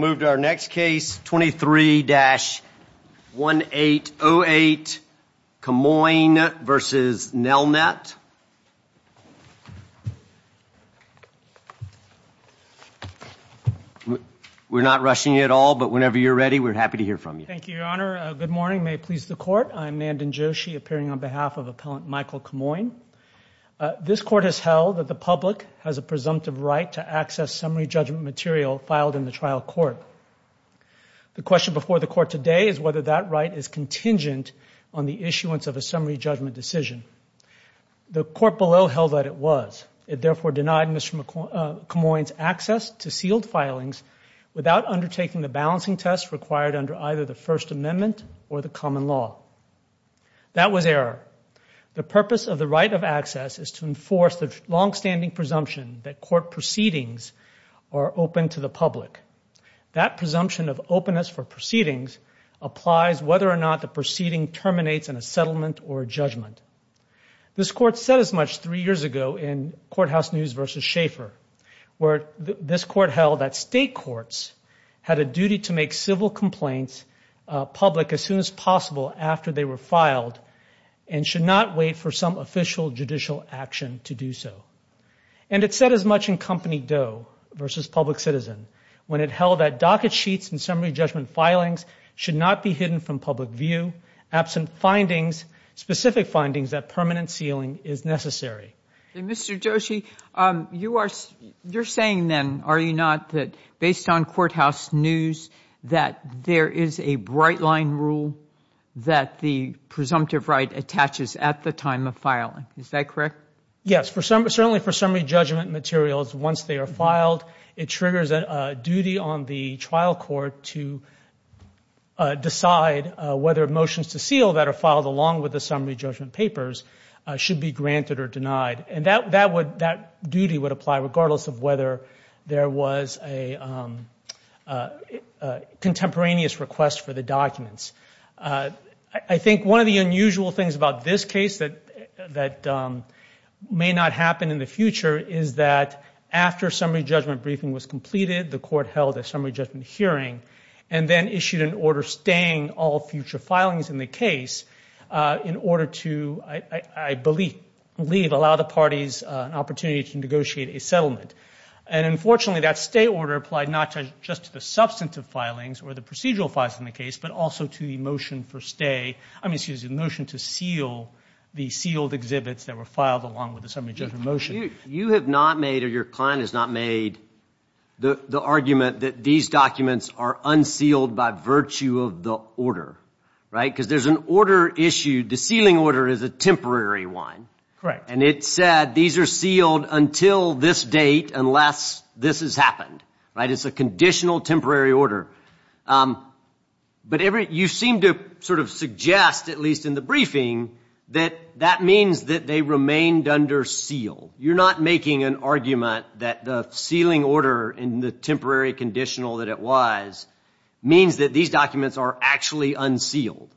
We'll move to our next case, 23-1808, Camoin v. Nelnet. We're not rushing you at all, but whenever you're ready, we're happy to hear from you. Thank you, Your Honor. Good morning. May it please the Court. I'm Nandan Joshi, appearing on behalf of Appellant Michael Camoin. This Court has held that the public has a presumptive right to access summary judgment material filed in the trial court. The question before the Court today is whether that right is contingent on the issuance of a summary judgment decision. The Court below held that it was. It therefore denied Mr. Camoin's access to sealed filings without undertaking the balancing tests required under either the First Amendment or the common law. That was error. The purpose of the right of access is to enforce the longstanding presumption that court proceedings are open to the public. That presumption of openness for proceedings applies whether or not the proceeding terminates in a settlement or judgment. This Court said as much three years ago in Courthouse News v. Schaeffer, where this Court held that state courts had a duty to make civil complaints public as soon as possible after they were filed and should not wait for some official judicial action to do so. And it said as much in Company Doe v. Public Citizen, when it held that docket sheets and summary judgment filings should not be hidden from public view, absent specific findings that permanent sealing is necessary. Mr. Joshi, you are saying then, are you not, that based on Courthouse News, that there is a bright line rule that the presumptive right attaches at the time of filing. Is that correct? Yes. Certainly for summary judgment materials, once they are filed, it triggers a duty on the trial court to decide whether motions to seal that are filed along with the summary judgment papers should be granted or denied. And that duty would apply regardless of whether there was a contemporaneous request for the documents. I think one of the unusual things about this case that may not happen in the future is that after summary judgment briefing was completed, the Court held a summary judgment hearing and then issued an order staying all future filings in the case in order to, I believe, allow the parties an opportunity to negotiate a settlement. And unfortunately, that stay order applied not just to the substantive filings or the motion to seal the sealed exhibits that were filed along with the summary judgment motion. You have not made, or your client has not made, the argument that these documents are unsealed by virtue of the order, right? Because there is an order issued, the sealing order is a temporary one. Correct. And it said these are sealed until this date unless this has happened, right? It is a conditional temporary order. But you seem to sort of suggest, at least in the briefing, that that means that they remained under seal. You are not making an argument that the sealing order in the temporary conditional that it was means that these documents are actually unsealed.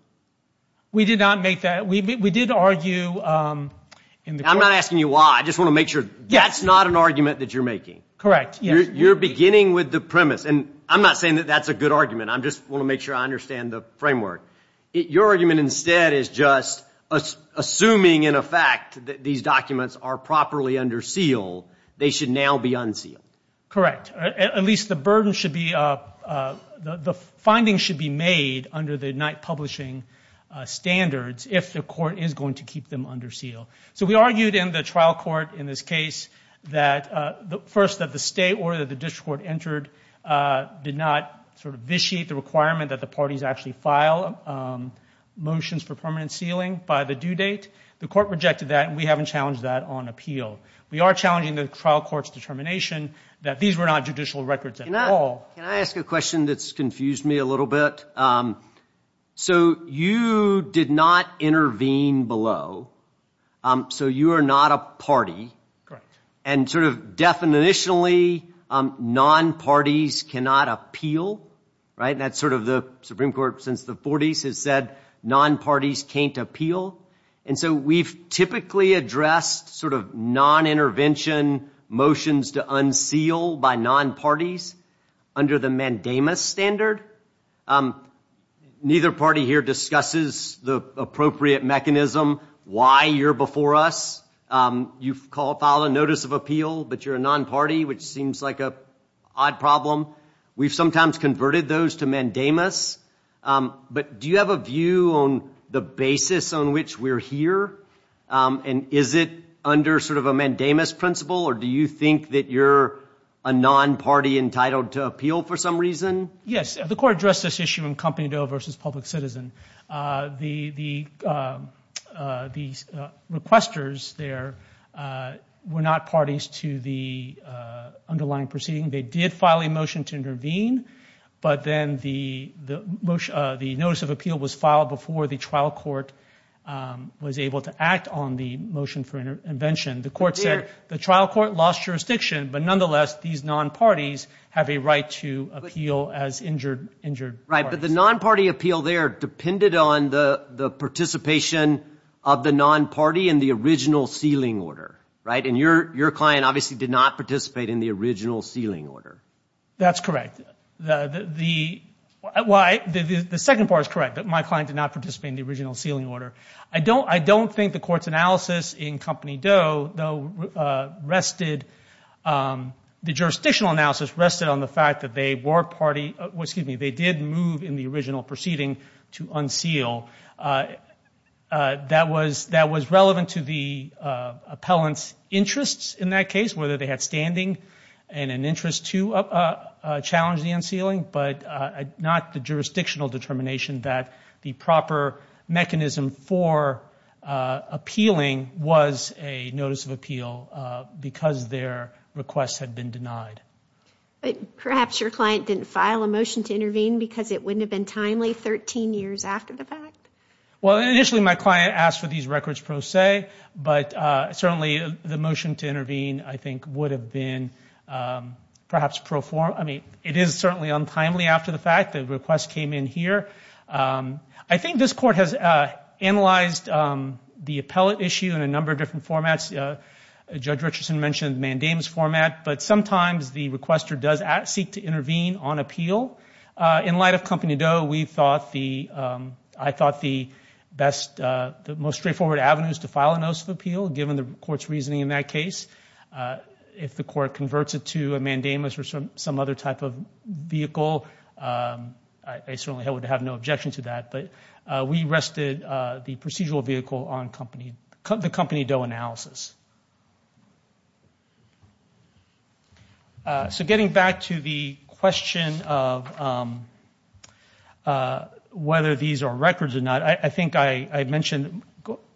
We did not make that. We did argue in the Court. I am not asking you why. I just want to make sure. That is not an argument that you are making. Correct. You are beginning with the premise. I am not saying that that is a good argument. I just want to make sure I understand the framework. Your argument instead is just assuming in effect that these documents are properly undersealed, they should now be unsealed. Correct. At least the burden should be, the findings should be made under the Knight Publishing standards if the Court is going to keep them under seal. So we argued in the trial court in this case that first that the stay order that the district court entered did not sort of vitiate the requirement that the parties actually file motions for permanent sealing by the due date. The Court rejected that and we haven't challenged that on appeal. We are challenging the trial court's determination that these were not judicial records at all. Can I ask a question that has confused me a little bit? So you did not intervene below. So you are not a party. Correct. And sort of definitionally, non-parties cannot appeal, right? That's sort of the Supreme Court since the 40s has said non-parties can't appeal. And so we've typically addressed sort of non-intervention motions to unseal by non-parties under the mandamus standard. Neither party here discusses the appropriate mechanism why you're before us. You file a notice of appeal, but you're a non-party, which seems like an odd problem. We've sometimes converted those to mandamus. But do you have a view on the basis on which we're here? And is it under sort of a mandamus principle or do you think that you're a non-party entitled to appeal for some reason? Yes. The Court addressed this issue in Company Doe versus Public Citizen. The requesters there were not parties to the underlying proceeding. They did file a motion to intervene, but then the notice of appeal was filed before the trial court was able to act on the motion for intervention. The court said the trial court lost jurisdiction, but nonetheless, these non-parties have a right to appeal as injured parties. Right, but the non-party appeal there depended on the participation of the non-party in the original sealing order, right? And your client obviously did not participate in the original sealing order. That's correct. The second part is correct, that my client did not participate in the original sealing order. I don't think the court's analysis in Company Doe, though, rested, the jurisdictional analysis rested on the fact that they were party, excuse me, they did move in the original proceeding to unseal. That was relevant to the appellant's interests in that case, whether they had standing and an interest to challenge the unsealing, but not the jurisdictional determination that the proper mechanism for appealing was a notice of appeal because their requests had been denied. But perhaps your client didn't file a motion to intervene because it wouldn't have been timely 13 years after the fact? Well, initially my client asked for these records pro se, but certainly the motion to intervene, I think, would have been perhaps pro forma, I mean, it is certainly untimely after the fact. The request came in here. I think this court has analyzed the appellate issue in a number of different formats. Judge Richardson mentioned mandamus format, but sometimes the requester does seek to intervene on appeal. In light of Company Doe, we thought the, I thought the best, the most straightforward avenue is to file a notice of appeal, given the court's reasoning in that case. If the court converts it to a mandamus or some other type of vehicle, I certainly would have no objection to that, but we rested the procedural vehicle on Company, the Company Doe analysis. So getting back to the question of whether these are records or not, I think I mentioned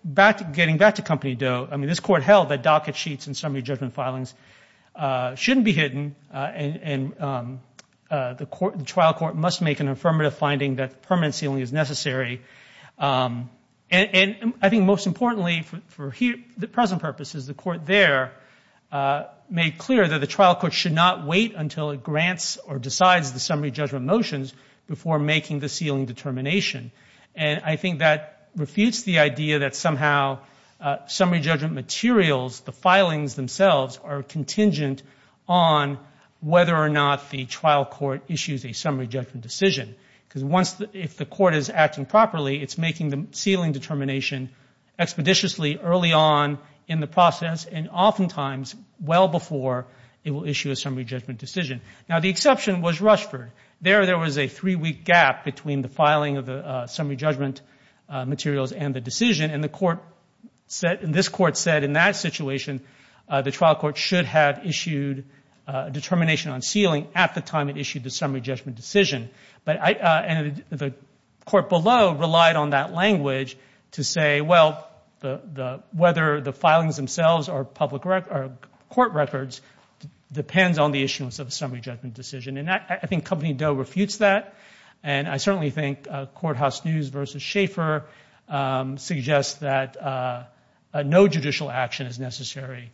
back, getting back to Company Doe, I mean, this court held that docket sheets and summary judgment filings shouldn't be hidden, and the trial court must make an affirmative finding that permanent sealing is necessary, and I think most importantly for present purposes, the court there made clear that the trial court should not wait until it grants or decides the summary judgment motions before making the sealing determination, and I think that refutes the idea that somehow summary judgment materials, the filings themselves, are contingent on whether or not the trial court issues a summary judgment decision, because once, if the court is acting properly, it's making the sealing determination expeditiously early on in the process, and oftentimes well before it will issue a summary judgment decision. Now the exception was Rushford. There there was a three-week gap between the filing of the summary judgment materials and the decision, and the court said, and this court said in that situation, the trial court should have issued a determination on sealing at the time it issued the summary judgment decision, and the court below relied on that language to say, well, whether the filings themselves or court records depends on the issuance of a summary judgment decision, and I think Company Doe refutes that, and I certainly think Courthouse News versus Schaeffer suggests that no judicial action is necessary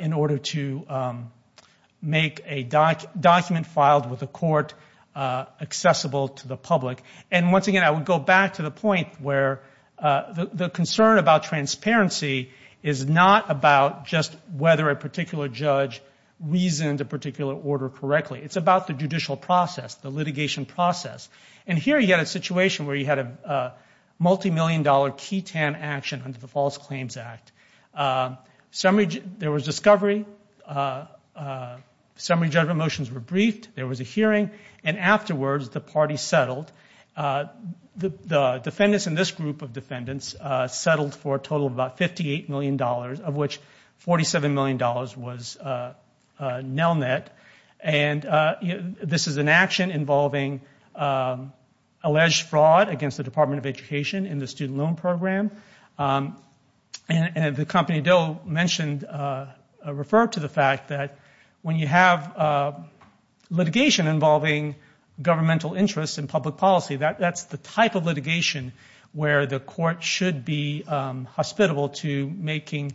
in order to make a document filed with a court accessible to the public, and once again, I would go back to the point where the concern about transparency is not about just whether a particular judge reasoned a particular order correctly. It's about the judicial process, the litigation process, and here you had a situation where you had a multimillion-dollar key-tan action under the False Claims Act. There was discovery. Summary judgment motions were briefed. There was a hearing, and afterwards the party settled. The defendants in this group of defendants settled for a total of about $58 million, of which $47 million was Nelnet, and this is an action involving alleged fraud. It's against the Department of Education in the Student Loan Program, and the Company Doe mentioned, referred to the fact that when you have litigation involving governmental interests in public policy, that's the type of litigation where the court should be hospitable to making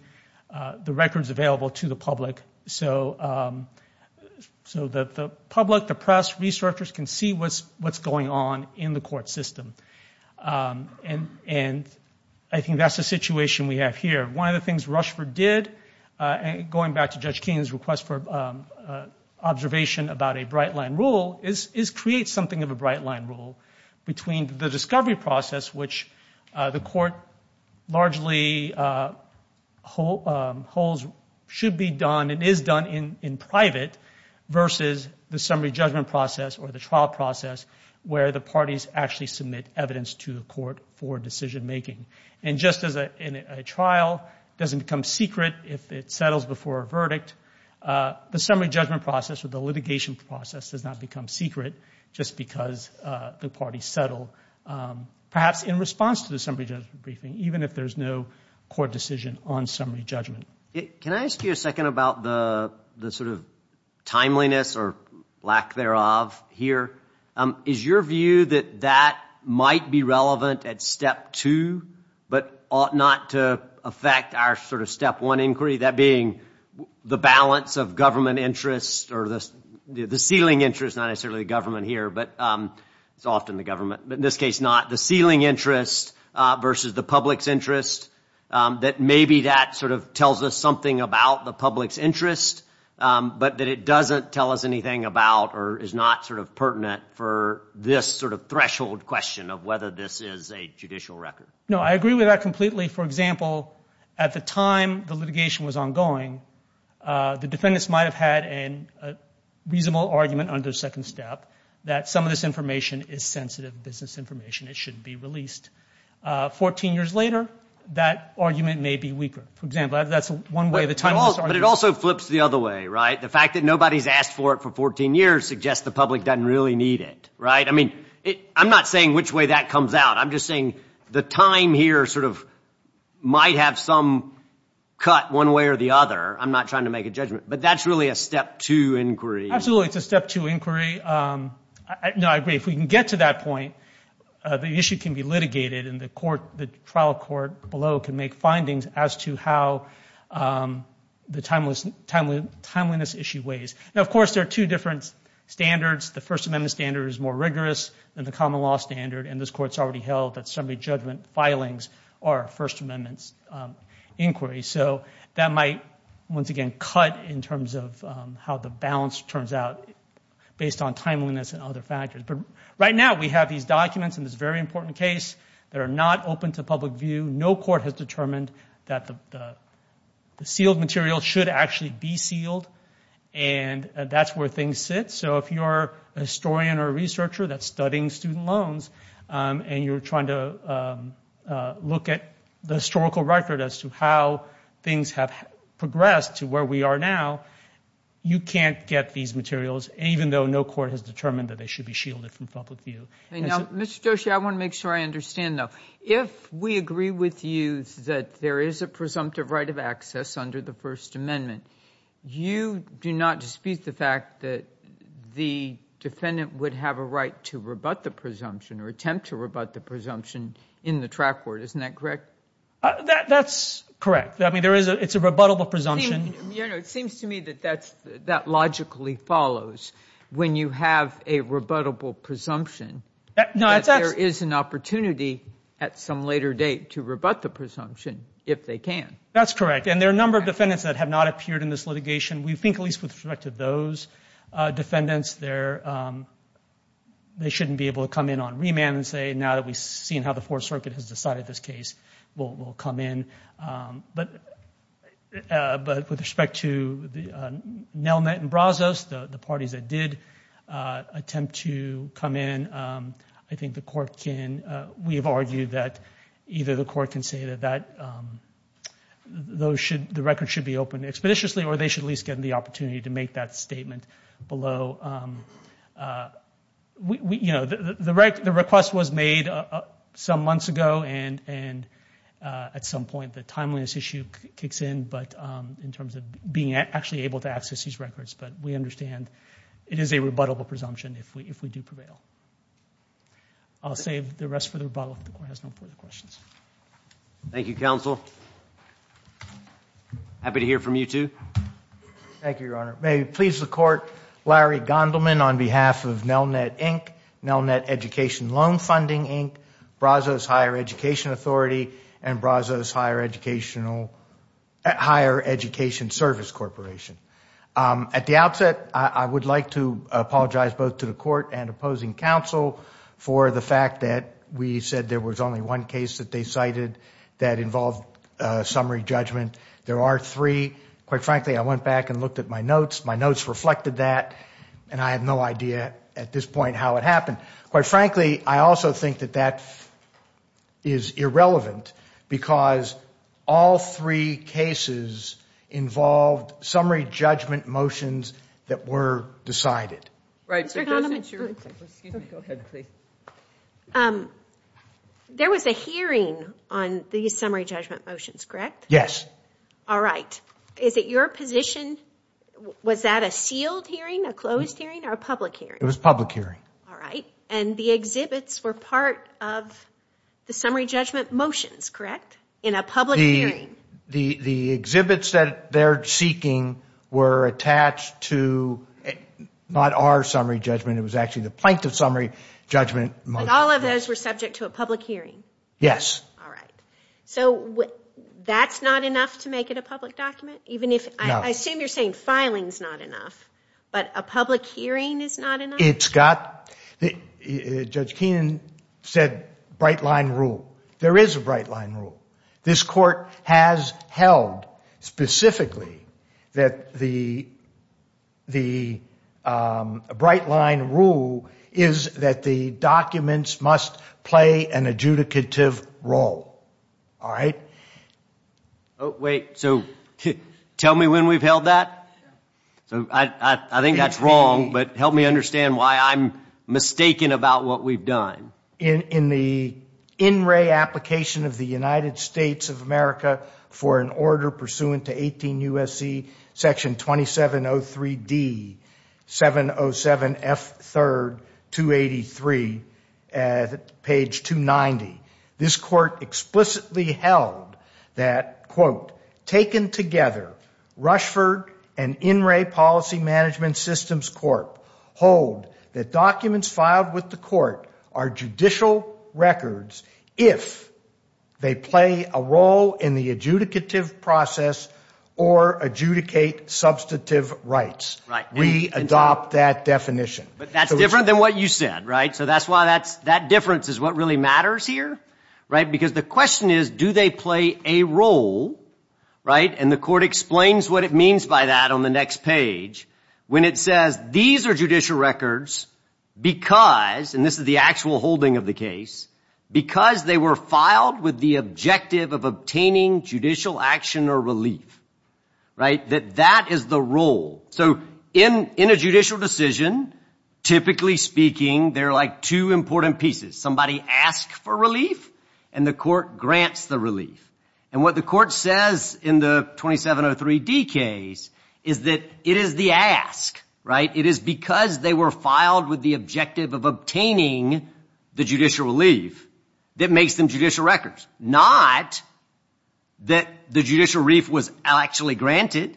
the records available to the public so that the public, the press, researchers can see what's going on in the court system, and I think that's the situation we have here. One of the things Rushford did, going back to Judge Keenan's request for observation about a bright-line rule, is create something of a bright-line rule between the discovery process, which the court largely holds should be done and is done in private, versus the trial process where the parties actually submit evidence to the court for decision-making. And just as a trial doesn't become secret if it settles before a verdict, the summary judgment process or the litigation process does not become secret just because the parties settle, perhaps in response to the summary judgment briefing, even if there's no court decision on summary judgment. Can I ask you a second about the sort of timeliness or lack thereof here? Is your view that that might be relevant at step two, but ought not to affect our sort of step one inquiry, that being the balance of government interests or the ceiling interest, not necessarily the government here, but it's often the government, but in this case not, the ceiling interest versus the public's interest, that maybe that sort of tells us something about the public's interest, but that it doesn't tell us anything about or is not sort of pertinent for this sort of threshold question of whether this is a judicial record? No, I agree with that completely. For example, at the time the litigation was ongoing, the defendants might have had a reasonable argument under second step that some of this information is sensitive business information. It shouldn't be released. Fourteen years later, that argument may be weaker. For example, that's one way the timeliness argues. But it also flips the other way, right? The fact that nobody's asked for it for 14 years suggests the public doesn't really need it, right? I mean, I'm not saying which way that comes out. I'm just saying the time here sort of might have some cut one way or the other. I'm not trying to make a judgment, but that's really a step two inquiry. Absolutely. It's a step two inquiry. No, I agree. If we can get to that point, the issue can be litigated and the trial court below can make findings as to how the timeliness issue weighs. Now, of course, there are two different standards. The First Amendment standard is more rigorous than the common law standard, and this Court's already held that summary judgment filings are First Amendment's inquiry. So that might, once again, cut in terms of how the balance turns out based on timeliness and other factors. But right now, we have these documents in this very important case that are not open to public view. No court has determined that the sealed material should actually be sealed, and that's where things sit. So if you're a historian or a researcher that's studying student loans and you're trying to look at the historical record as to how things have progressed to where we are now, you can't get these materials, even though no court has determined that they should be shielded from public view. Now, Mr. Joshi, I want to make sure I understand, though. If we agree with you that there is a presumptive right of access under the First Amendment, you do not dispute the fact that the defendant would have a right to rebut the presumption or attempt to rebut the presumption in the track court, isn't that correct? That's correct. I mean, it's a rebuttable presumption. It seems to me that that logically follows. When you have a rebuttable presumption, there is an opportunity at some later date to rebut the presumption if they can. That's correct. And there are a number of defendants that have not appeared in this litigation. We think at least with respect to those defendants, they shouldn't be able to come in on remand and say, now that we've seen how the Fourth Circuit has decided this case, we'll come in. But with respect to Nelmet and Brazos, the parties that did attempt to come in, I think the court can, we have argued that either the court can say that the record should be opened expeditiously or they should at least get the opportunity to make that statement below. You know, the request was made some months ago, and at some point the timeliness issue kicks in, but in terms of being actually able to access these records, but we understand it is a rebuttable presumption if we do prevail. I'll save the rest for the rebuttal if the court has no further questions. Thank you, counsel. Thank you, Your Honor. May it please the court, Larry Gondelman on behalf of Nelnet Inc., Nelnet Education Loan Funding Inc., Brazos Higher Education Authority, and Brazos Higher Education Service Corporation. At the outset, I would like to apologize both to the court and opposing counsel for the fact that we said there was only one case that they cited that involved summary judgment. There are three. Quite frankly, I went back and looked at my notes. My notes reflected that, and I have no idea at this point how it happened. Quite frankly, I also think that that is irrelevant because all three cases involved summary judgment motions that were decided. There was a hearing on the summary judgment motions, correct? Yes. All right. Is it your position, was that a sealed hearing, a closed hearing, or a public hearing? It was a public hearing. All right. And the exhibits were part of the summary judgment motions, correct, in a public hearing? The exhibits that they're seeking were attached to not our summary judgment, it was actually the plaintiff's summary judgment motions. All of those were subject to a public hearing? Yes. All right. So that's not enough to make it a public document? No. I assume you're saying filing's not enough, but a public hearing is not enough? It's got... Judge Keenan said bright line rule. There is a bright line rule. This court has held specifically that the bright line rule is that the documents must play an adjudicative role, all right? Wait, so tell me when we've held that? I think that's wrong, but help me understand why I'm mistaken about what we've done. In the in-ray application of the United States of America for an order pursuant to 18 U.S.C. Section 2703D, 707F3rd, 283, page 290. This court explicitly held that, quote, taken together, Rushford and In-Ray Policy Management Systems Corp. hold that documents filed with the court are judicial records if they play a role in the adjudicative process or adjudicate substantive rights. We adopt that definition. But that's different than what you said, right? So that's why that difference is what really matters here, right? Because the question is, do they play a role, right? And the court explains what it means by that on the next page. When it says these are judicial records because, and this is the actual holding of the case, because they were filed with the objective of obtaining judicial action or relief, right? That that is the role. So in a judicial decision, typically speaking, there are like two important pieces. Somebody asks for relief and the court grants the relief. And what the court says in the 2703D case is that it is the ask, right? It is because they were filed with the objective of obtaining the judicial relief that makes them judicial records, not that the judicial relief was actually granted,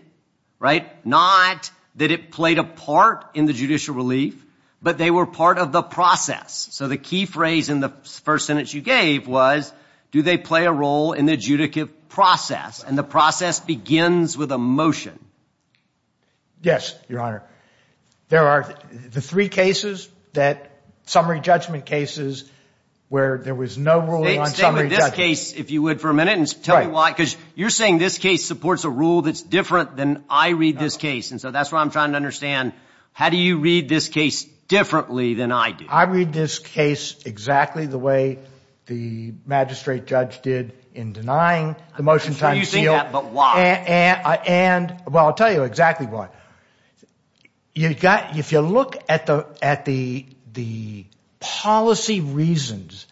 right? Not that it played a part in the judicial relief, but they were part of the process. So the key phrase in the first sentence you gave was, do they play a role in the adjudicative And the process begins with a motion. Yes, Your Honor. There are the three cases that summary judgment cases where there was no ruling on summary judgment. Stay with this case, if you would, for a minute and tell me why. Because you're saying this case supports a rule that's different than I read this case. And so that's what I'm trying to understand. How do you read this case differently than I do? I read this case exactly the way the magistrate judge did in denying the motion times seal. I'm sure you think that, but why? And, well, I'll tell you exactly why. You've got, if you look at the policy reasons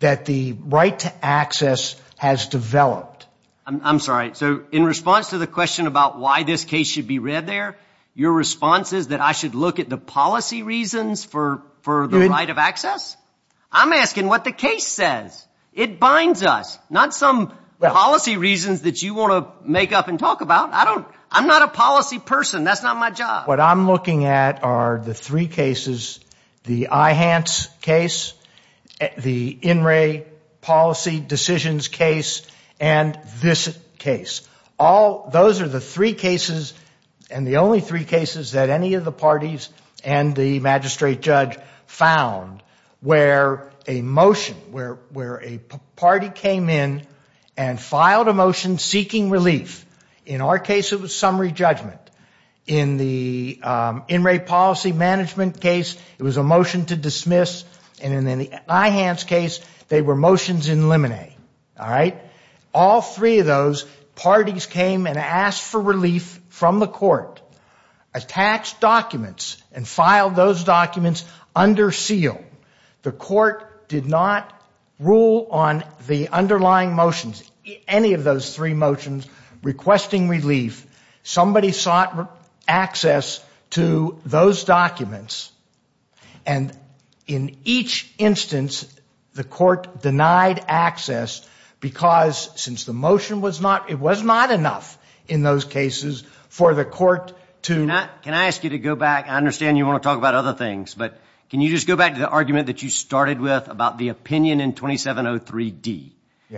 that the right to access has developed. I'm sorry, so in response to the question about why this case should be read there, your response is that I should look at the policy reasons for the right of access? I'm asking what the case says. It binds us. Not some policy reasons that you want to make up and talk about. I don't, I'm not a policy person. That's not my job. What I'm looking at are the three cases, the IHANTS case, the INRAE policy decisions case, and this case. All, those are the three cases and the only three cases that any of the parties and the magistrate judge found where a motion, where a party came in and filed a motion seeking relief. In our case, it was summary judgment. In the INRAE policy management case, it was a motion to dismiss, and in the IHANTS case, they were motions in limine, all right? And filed those documents under seal. The court did not rule on the underlying motions, any of those three motions requesting relief. Somebody sought access to those documents, and in each instance, the court denied access because since the motion was not, it was not enough in those cases for the court to. Can I ask you to go back, I understand you want to talk about other things, but can you just go back to the argument that you started with about the opinion in 2703D?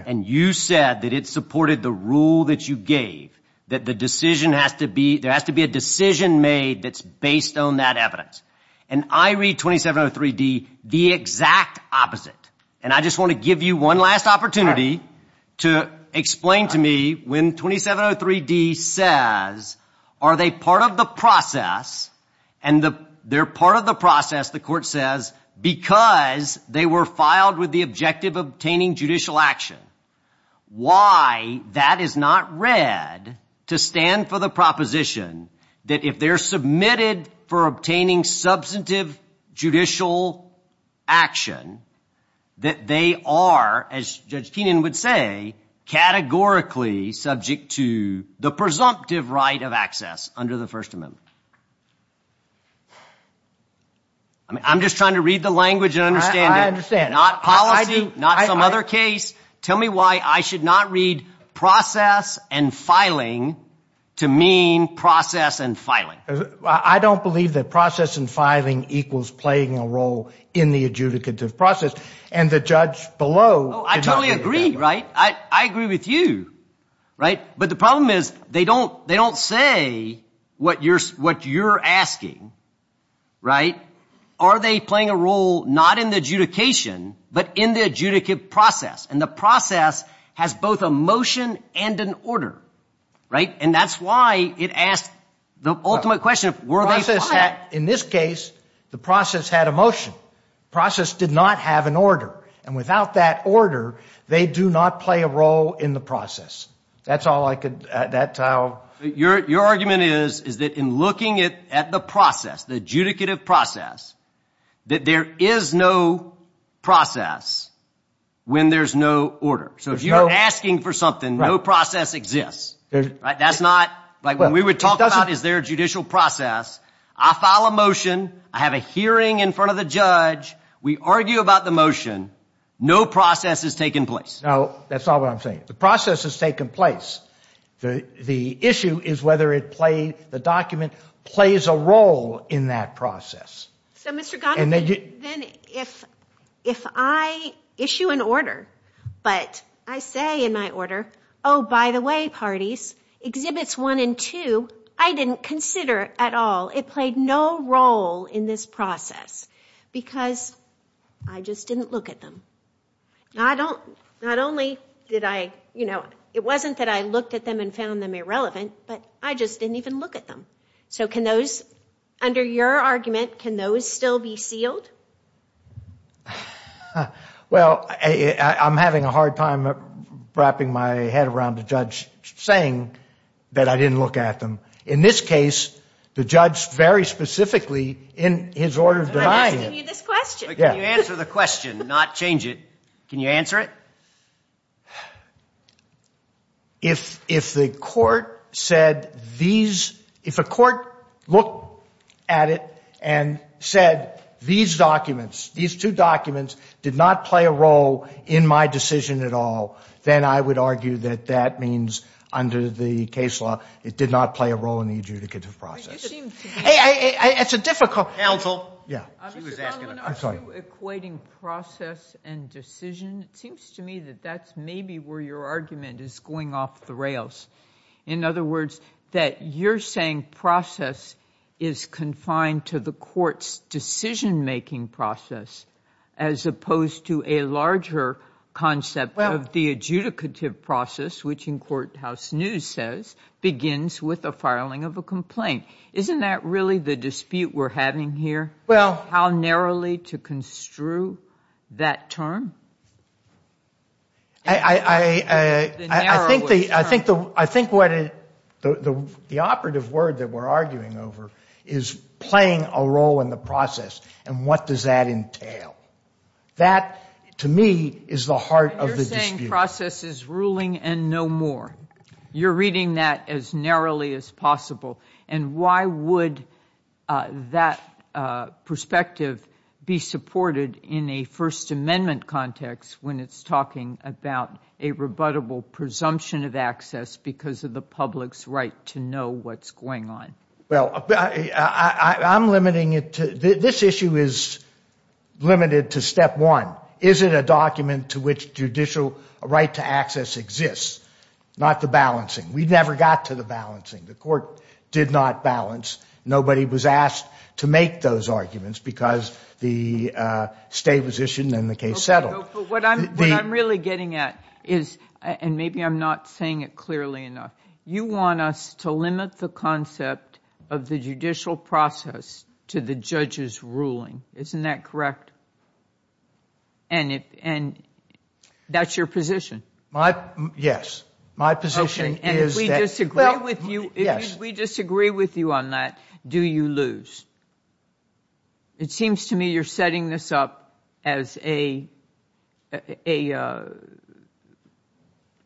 And you said that it supported the rule that you gave, that the decision has to be, there has to be a decision made that's based on that evidence. And I read 2703D the exact opposite. And I just want to give you one last opportunity to explain to me when 2703D says, are they part of the process, and they're part of the process, the court says, because they were filed with the objective of obtaining judicial action. Why that is not read to stand for the proposition that if they're submitted for obtaining substantive judicial action, that they are, as Judge Keenan would say, categorically subject to the presumptive right of access under the First Amendment. I mean, I'm just trying to read the language and understand it. I understand. Not policy, not some other case. Tell me why I should not read process and filing to mean process and filing. I don't believe that process and filing equals playing a role in the adjudicative process. And the judge below. I totally agree, right? I agree with you, right? But the problem is they don't say what you're asking, right? Are they playing a role not in the adjudication, but in the adjudicative process? And the process has both a motion and an order, right? And that's why it asks the ultimate question, were they filed? In this case, the process had a motion. Process did not have an order. And without that order, they do not play a role in the process. That's all I could, that's how. Your argument is, is that in looking at the process, the adjudicative process, that there is no process when there's no order. So if you're asking for something, no process exists, right? That's not, like when we would talk about is there a judicial process, I file a motion, I have a hearing in front of the judge. We argue about the motion, no process has taken place. No, that's not what I'm saying. The process has taken place. The issue is whether it played, the document plays a role in that process. So Mr. Goddard, then if I issue an order, but I say in my order, oh, by the way, parties, exhibits one and two, I didn't consider at all. It played no role in this process because I just didn't look at them. Not only did I, you know, it wasn't that I looked at them and found them irrelevant, but I just didn't even look at them. So can those, under your argument, can those still be sealed? Well, I'm having a hard time wrapping my head around the judge saying that I didn't look at them. In this case, the judge very specifically in his order denied it. I'm asking you this question. Yeah. Can you answer the question, not change it? Can you answer it? If the court said these, if a court looked at it and said these documents, these two documents did not play a role in my decision at all, then I would argue that that means under the case law, it did not play a role in the adjudicative process. It's a difficult. Counsel. Yeah. She was asking. I'm sorry. Mr. Conlon, are you equating process and decision? It seems to me that that's maybe where your argument is going off the rails. In other words, that you're saying process is confined to the court's decision-making process as opposed to a larger concept of the adjudicative process, which in courthouse news says begins with the filing of a complaint. Isn't that really the dispute we're having here? Well. How narrowly to construe that term? I think the operative word that we're arguing over is playing a role in the process and what does that entail. That, to me, is the heart of the dispute. You're saying process is ruling and no more. You're reading that as narrowly as possible. And why would that perspective be supported in a First Amendment context when it's talking about a rebuttable presumption of access because of the public's right to know what's going on? Well, I'm limiting it to, this issue is limited to step one. Is it a document to which judicial right to access exists? Not the balancing. We never got to the balancing. The court did not balance. Nobody was asked to make those arguments because the state was issued and the case settled. What I'm really getting at is, and maybe I'm not saying it clearly enough, you want us to limit the concept of the judicial process to the judge's ruling. Isn't that correct? And that's your position. My, yes. My position is that... Okay, and if we disagree with you on that, do you lose? It seems to me you're setting this up as a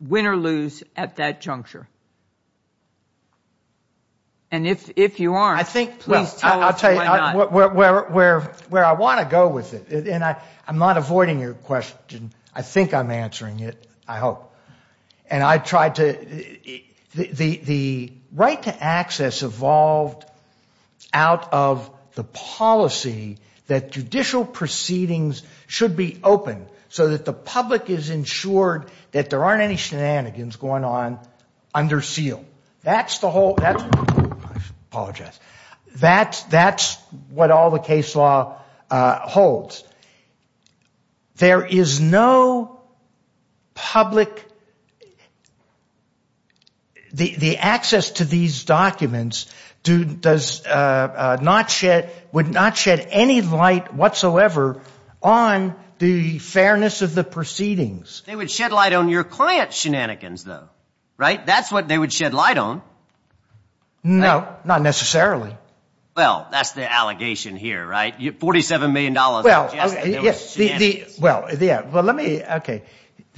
win or lose at that juncture. And if you aren't, please tell us why not. I'll tell you where I want to go with it. And I'm not avoiding your question. I think I'm answering it, I hope. And I tried to... The right to access evolved out of the policy that judicial proceedings should be open so that the public is insured that there aren't any shenanigans going on under seal. That's the whole... I apologize. That's what all the case law holds. There is no public... The access to these documents would not shed any light whatsoever on the fairness of the proceedings. They would shed light on your client's shenanigans, though. Right? That's what they would shed light on. No, not necessarily. Well, that's the allegation here, right? $47 million. Well, let me...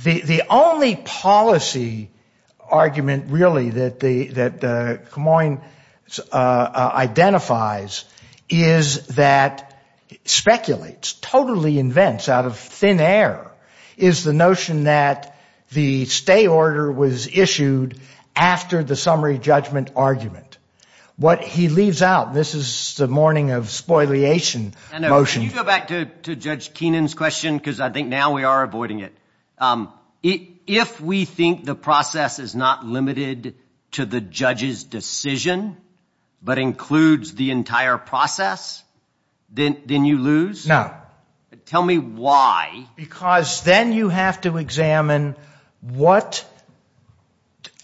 The only policy argument, really, that Kamoin identifies is that speculates, totally invents out of thin air, is the notion that the stay order was issued after the summary judgment argument. What he leaves out, this is the morning of spoliation motion... Can you go back to Judge Keenan's question, because I think now we are avoiding it. If we think the process is not limited to the judge's decision, but includes the entire process, then you lose? No. Tell me why. Because then you have to examine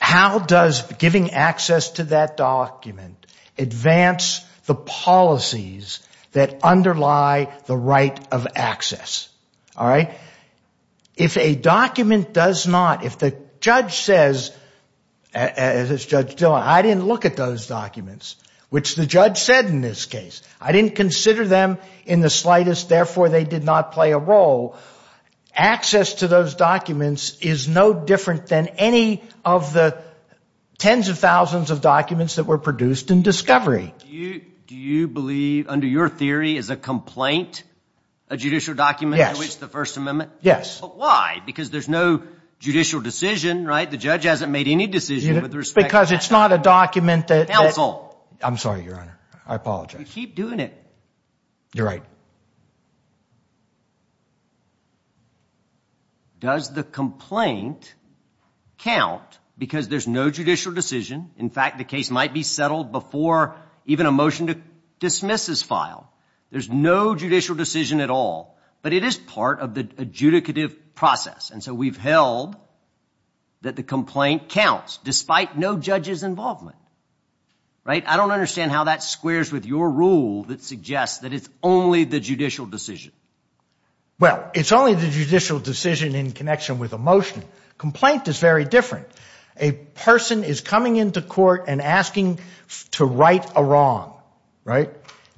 how does giving access to that document advance the policies that underlie the right of access. All right? If a document does not... If the judge says, as Judge Dillon, I didn't look at those documents, which the judge said in this case, I didn't consider them in the slightest, therefore they did not play a role, access to those documents is no different than any of the tens of thousands of documents that were produced in discovery. Do you believe, under your theory, is a complaint a judicial document? Yes. Under which the First Amendment... Yes. But why? Because there's no judicial decision, right? The judge hasn't made any decision with respect to... Because it's not a document that... Counsel! I'm sorry, Your Honor. I apologize. You keep doing it. You're right. Does the complaint count because there's no judicial decision? In fact, the case might be settled before even a motion to dismiss is filed. There's no judicial decision at all. But it is part of the adjudicative process, and so we've held that the complaint counts, despite no judge's involvement. Right? I don't understand how that squares with your rule that suggests that it's only the judicial decision. Well, it's only the judicial decision in connection with a motion. Complaint is very different. A person is coming into court and asking to right a wrong, right?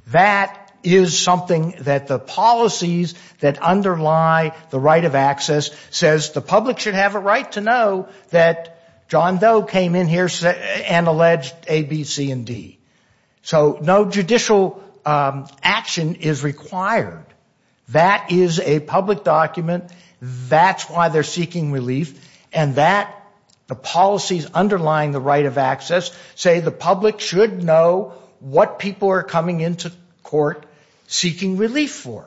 That is something that the policies that underlie the right of access says the public should have a right to know that John Doe came in here and alleged A, B, C, and D. So no judicial action is required. That is a public document. That's why they're seeking relief. And that... the policies underlying the right of access say the public should know what people are coming into court seeking relief for.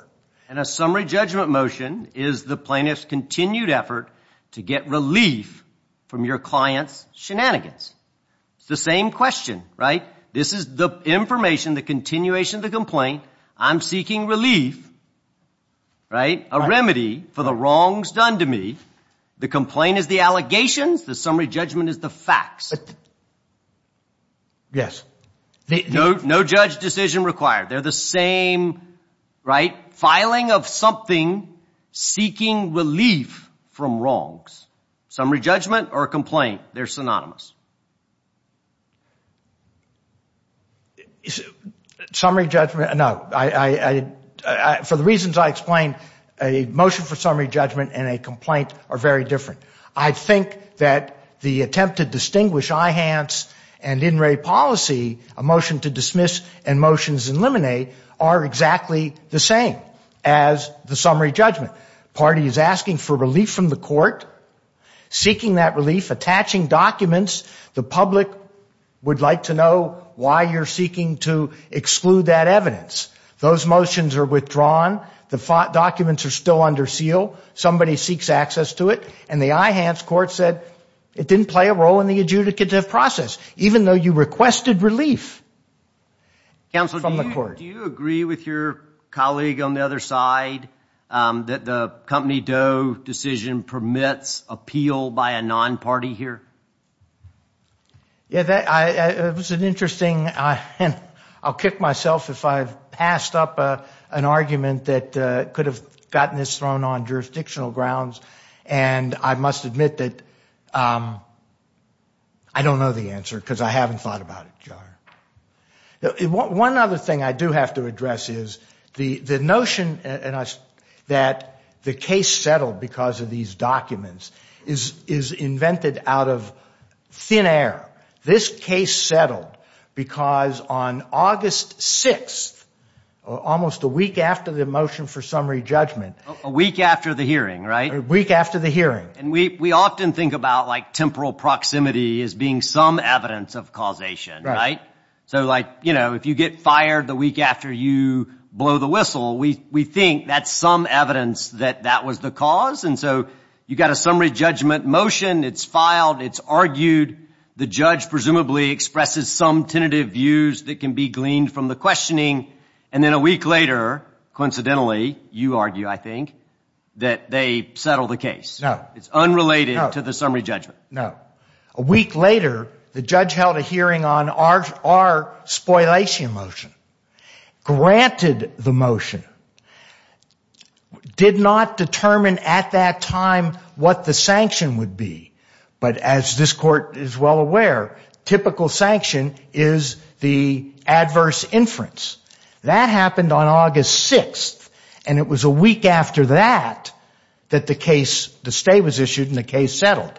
And a summary judgment motion is the plaintiff's continued effort to get relief from your client's shenanigans. It's the same question, right? This is the information, the continuation of the complaint. I'm seeking relief, right? A remedy for the wrongs done to me. The complaint is the allegations. The summary judgment is the facts. Yes. No judge decision required. They're the same, right? Filing of something, seeking relief from wrongs. Summary judgment or complaint, they're synonymous. Summary judgment, no. For the reasons I explained, a motion for summary judgment and a complaint are very different. I think that the attempt to distinguish IHANTS and INRAE policy, a motion to dismiss and motions eliminate, are exactly the same as the summary judgment. Party is asking for relief from the court, seeking that relief, attaching documents. The public would like to know why you're seeking to exclude that evidence. Those motions are withdrawn. The documents are still under seal. Somebody seeks access to it. And the IHANTS court said it didn't play a role in the adjudicative process, even though you requested relief from the court. Do you agree with your colleague on the other side that the company DOE decision permits appeal by a non-party here? Yeah, that was an interesting, I'll kick myself if I've passed up an argument that could have gotten this thrown on jurisdictional grounds. And I must admit that I don't know the answer because I haven't thought about it, John. One other thing I do have to address is the notion that the case settled because of these documents is invented out of thin air. This case settled because on August 6th, almost a week after the motion for summary judgment. A week after the hearing, right? A week after the hearing. And we often think about like temporal proximity as being some evidence of causation, right? So like, you know, if you get fired the week after you blow the whistle, we think that's some evidence that that was the cause. And so you've got a summary judgment motion. It's filed. It's argued. The judge presumably expresses some tentative views that can be gleaned from the questioning. And then a week later, coincidentally, you argue, I think, that they settled the case. No. It's unrelated to the summary judgment. No. A week later, the judge held a hearing on our spoliation motion, granted the motion, did not determine at that time what the sanction would be. But as this court is well aware, typical sanction is the adverse inference. That happened on August 6th. And it was a week after that that the case, the stay was issued and the case settled.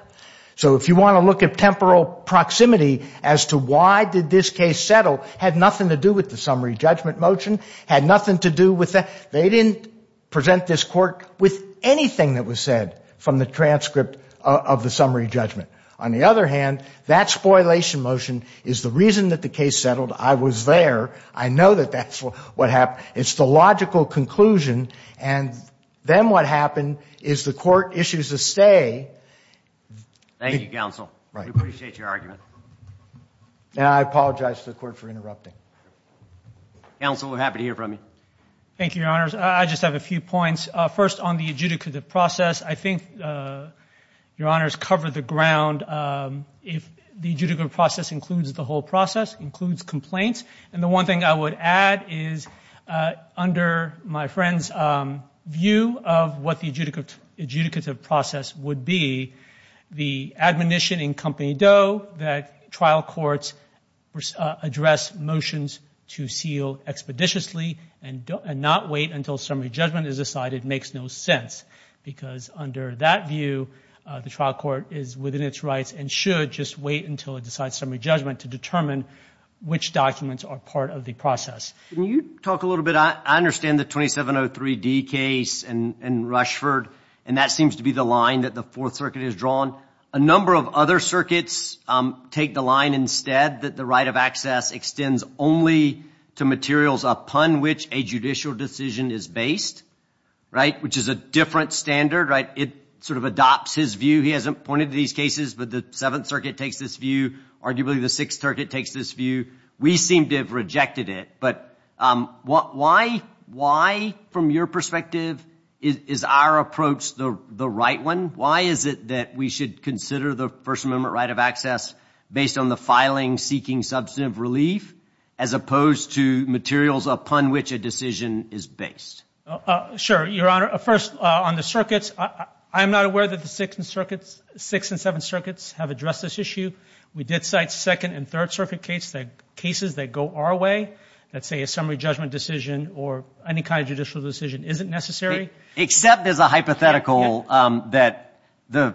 So if you want to look at temporal proximity as to why did this case settle had nothing to do with the summary judgment motion, had nothing to do with that. They didn't present this court with anything that was said from the transcript of the summary judgment. On the other hand, that spoliation motion is the reason that the case settled. I was there. I know that that's what happened. It's the logical conclusion. And then what happened is the court issues a stay. Thank you, counsel. We appreciate your argument. And I apologize to the court for interrupting. Counsel, we're happy to hear from you. Thank you, your honors. I just have a few points. First, on the adjudicative process, I think your honors covered the ground. If the adjudicative process includes the whole process, includes complaints, and the one thing I would add is under my friend's view of what the adjudicative process would be, the admonition in Company Doe that trial courts address motions to seal expeditiously and not wait until summary judgment is decided makes no sense. Because under that view, the trial court is within its rights and should just wait until it decides summary judgment to determine which documents are part of the process. Can you talk a little bit? I understand the 2703D case in Rushford, and that seems to be the line that the Fourth Circuit has drawn. A number of other circuits take the line instead that the right of access extends only to materials upon which a judicial decision is based, right? Which is a different standard, right? It sort of adopts his view. He hasn't pointed to these cases, but the Seventh Circuit takes this view. Arguably, the Sixth Circuit takes this view. We seem to have rejected it. But why, from your perspective, is our approach the right one? Why is it that we should consider the First Amendment right of access based on the filing seeking substantive relief as opposed to materials upon which a decision is based? Sure, Your Honor. First, on the circuits, I'm not aware that the Sixth and Seventh Circuits have addressed this issue. We did cite Second and Third Circuit cases that go our way that say a summary judgment decision or any kind of judicial decision isn't necessary. Except there's a hypothetical that the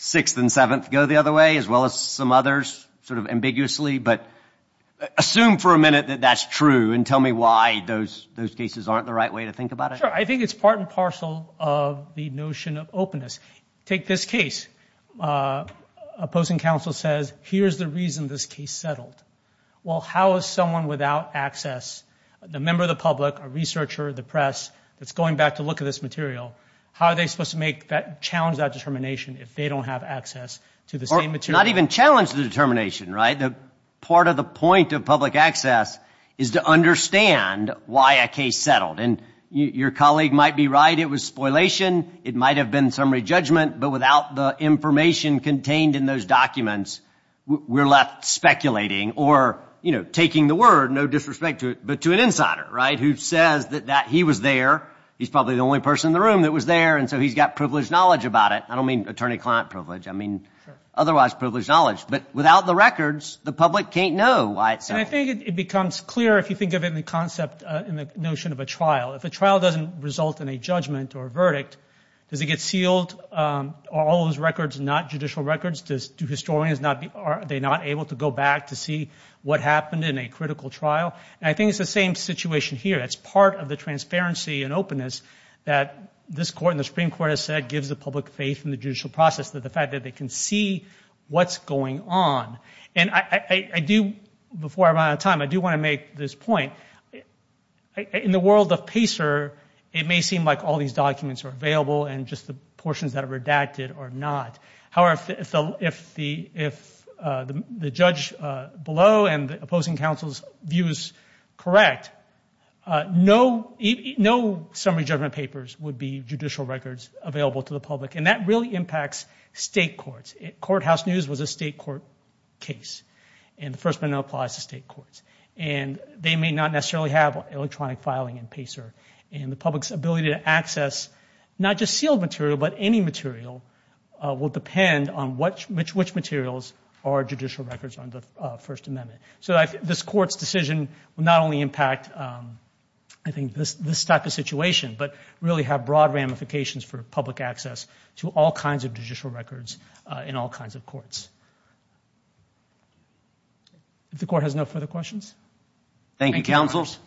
Sixth and Seventh go the other way, as well as some others sort of ambiguously. But assume for a minute that that's true and tell me why those cases aren't the right way to think about it. Sure. I think it's part and parcel of the notion of openness. Take this case. Opposing counsel says, here's the reason this case settled. Well, how is someone without access, a member of the public, a researcher, the press, that's going back to look at this material, how are they supposed to challenge that determination if they don't have access to the same material? Not even challenge the determination, right? The part of the point of public access is to understand why a case settled. And your colleague might be right. It was spoilation. It might have been summary judgment. But without the information contained in those documents, we're left speculating or, you know, taking the word, no disrespect to it, but to an insider, right, who says that he was there. He's probably the only person in the room that was there. And so he's got privileged knowledge about it. I don't mean attorney-client privilege. I mean otherwise privileged knowledge. But without the records, the public can't know why it settled. And I think it becomes clear if you think of it in the concept, in the notion of a trial. If a trial doesn't result in a judgment or a verdict, does it get sealed, are all those records not judicial records? Do historians, are they not able to go back to see what happened in a critical trial? And I think it's the same situation here. It's part of the transparency and openness that this court and the Supreme Court has said gives the public faith in the judicial process, that the fact that they can see what's going on. And I do, before I run out of time, I do want to make this point. In the world of PACER, it may seem like all these documents are available and just the portions that are redacted are not. However, if the judge below and the opposing counsel's views correct, no summary judgment papers would be judicial records available to the public. And that really impacts state courts. Courthouse News was a state court case, and the First Amendment applies to state courts. And they may not necessarily have electronic filing in PACER. And the public's ability to access not just sealed material, but any material will depend on which materials are judicial records under the First Amendment. So this court's decision will not only impact, I think, this type of situation, but really have broad ramifications for public access to all kinds of judicial records in all kinds of courts. If the court has no further questions. Thank you, counsels.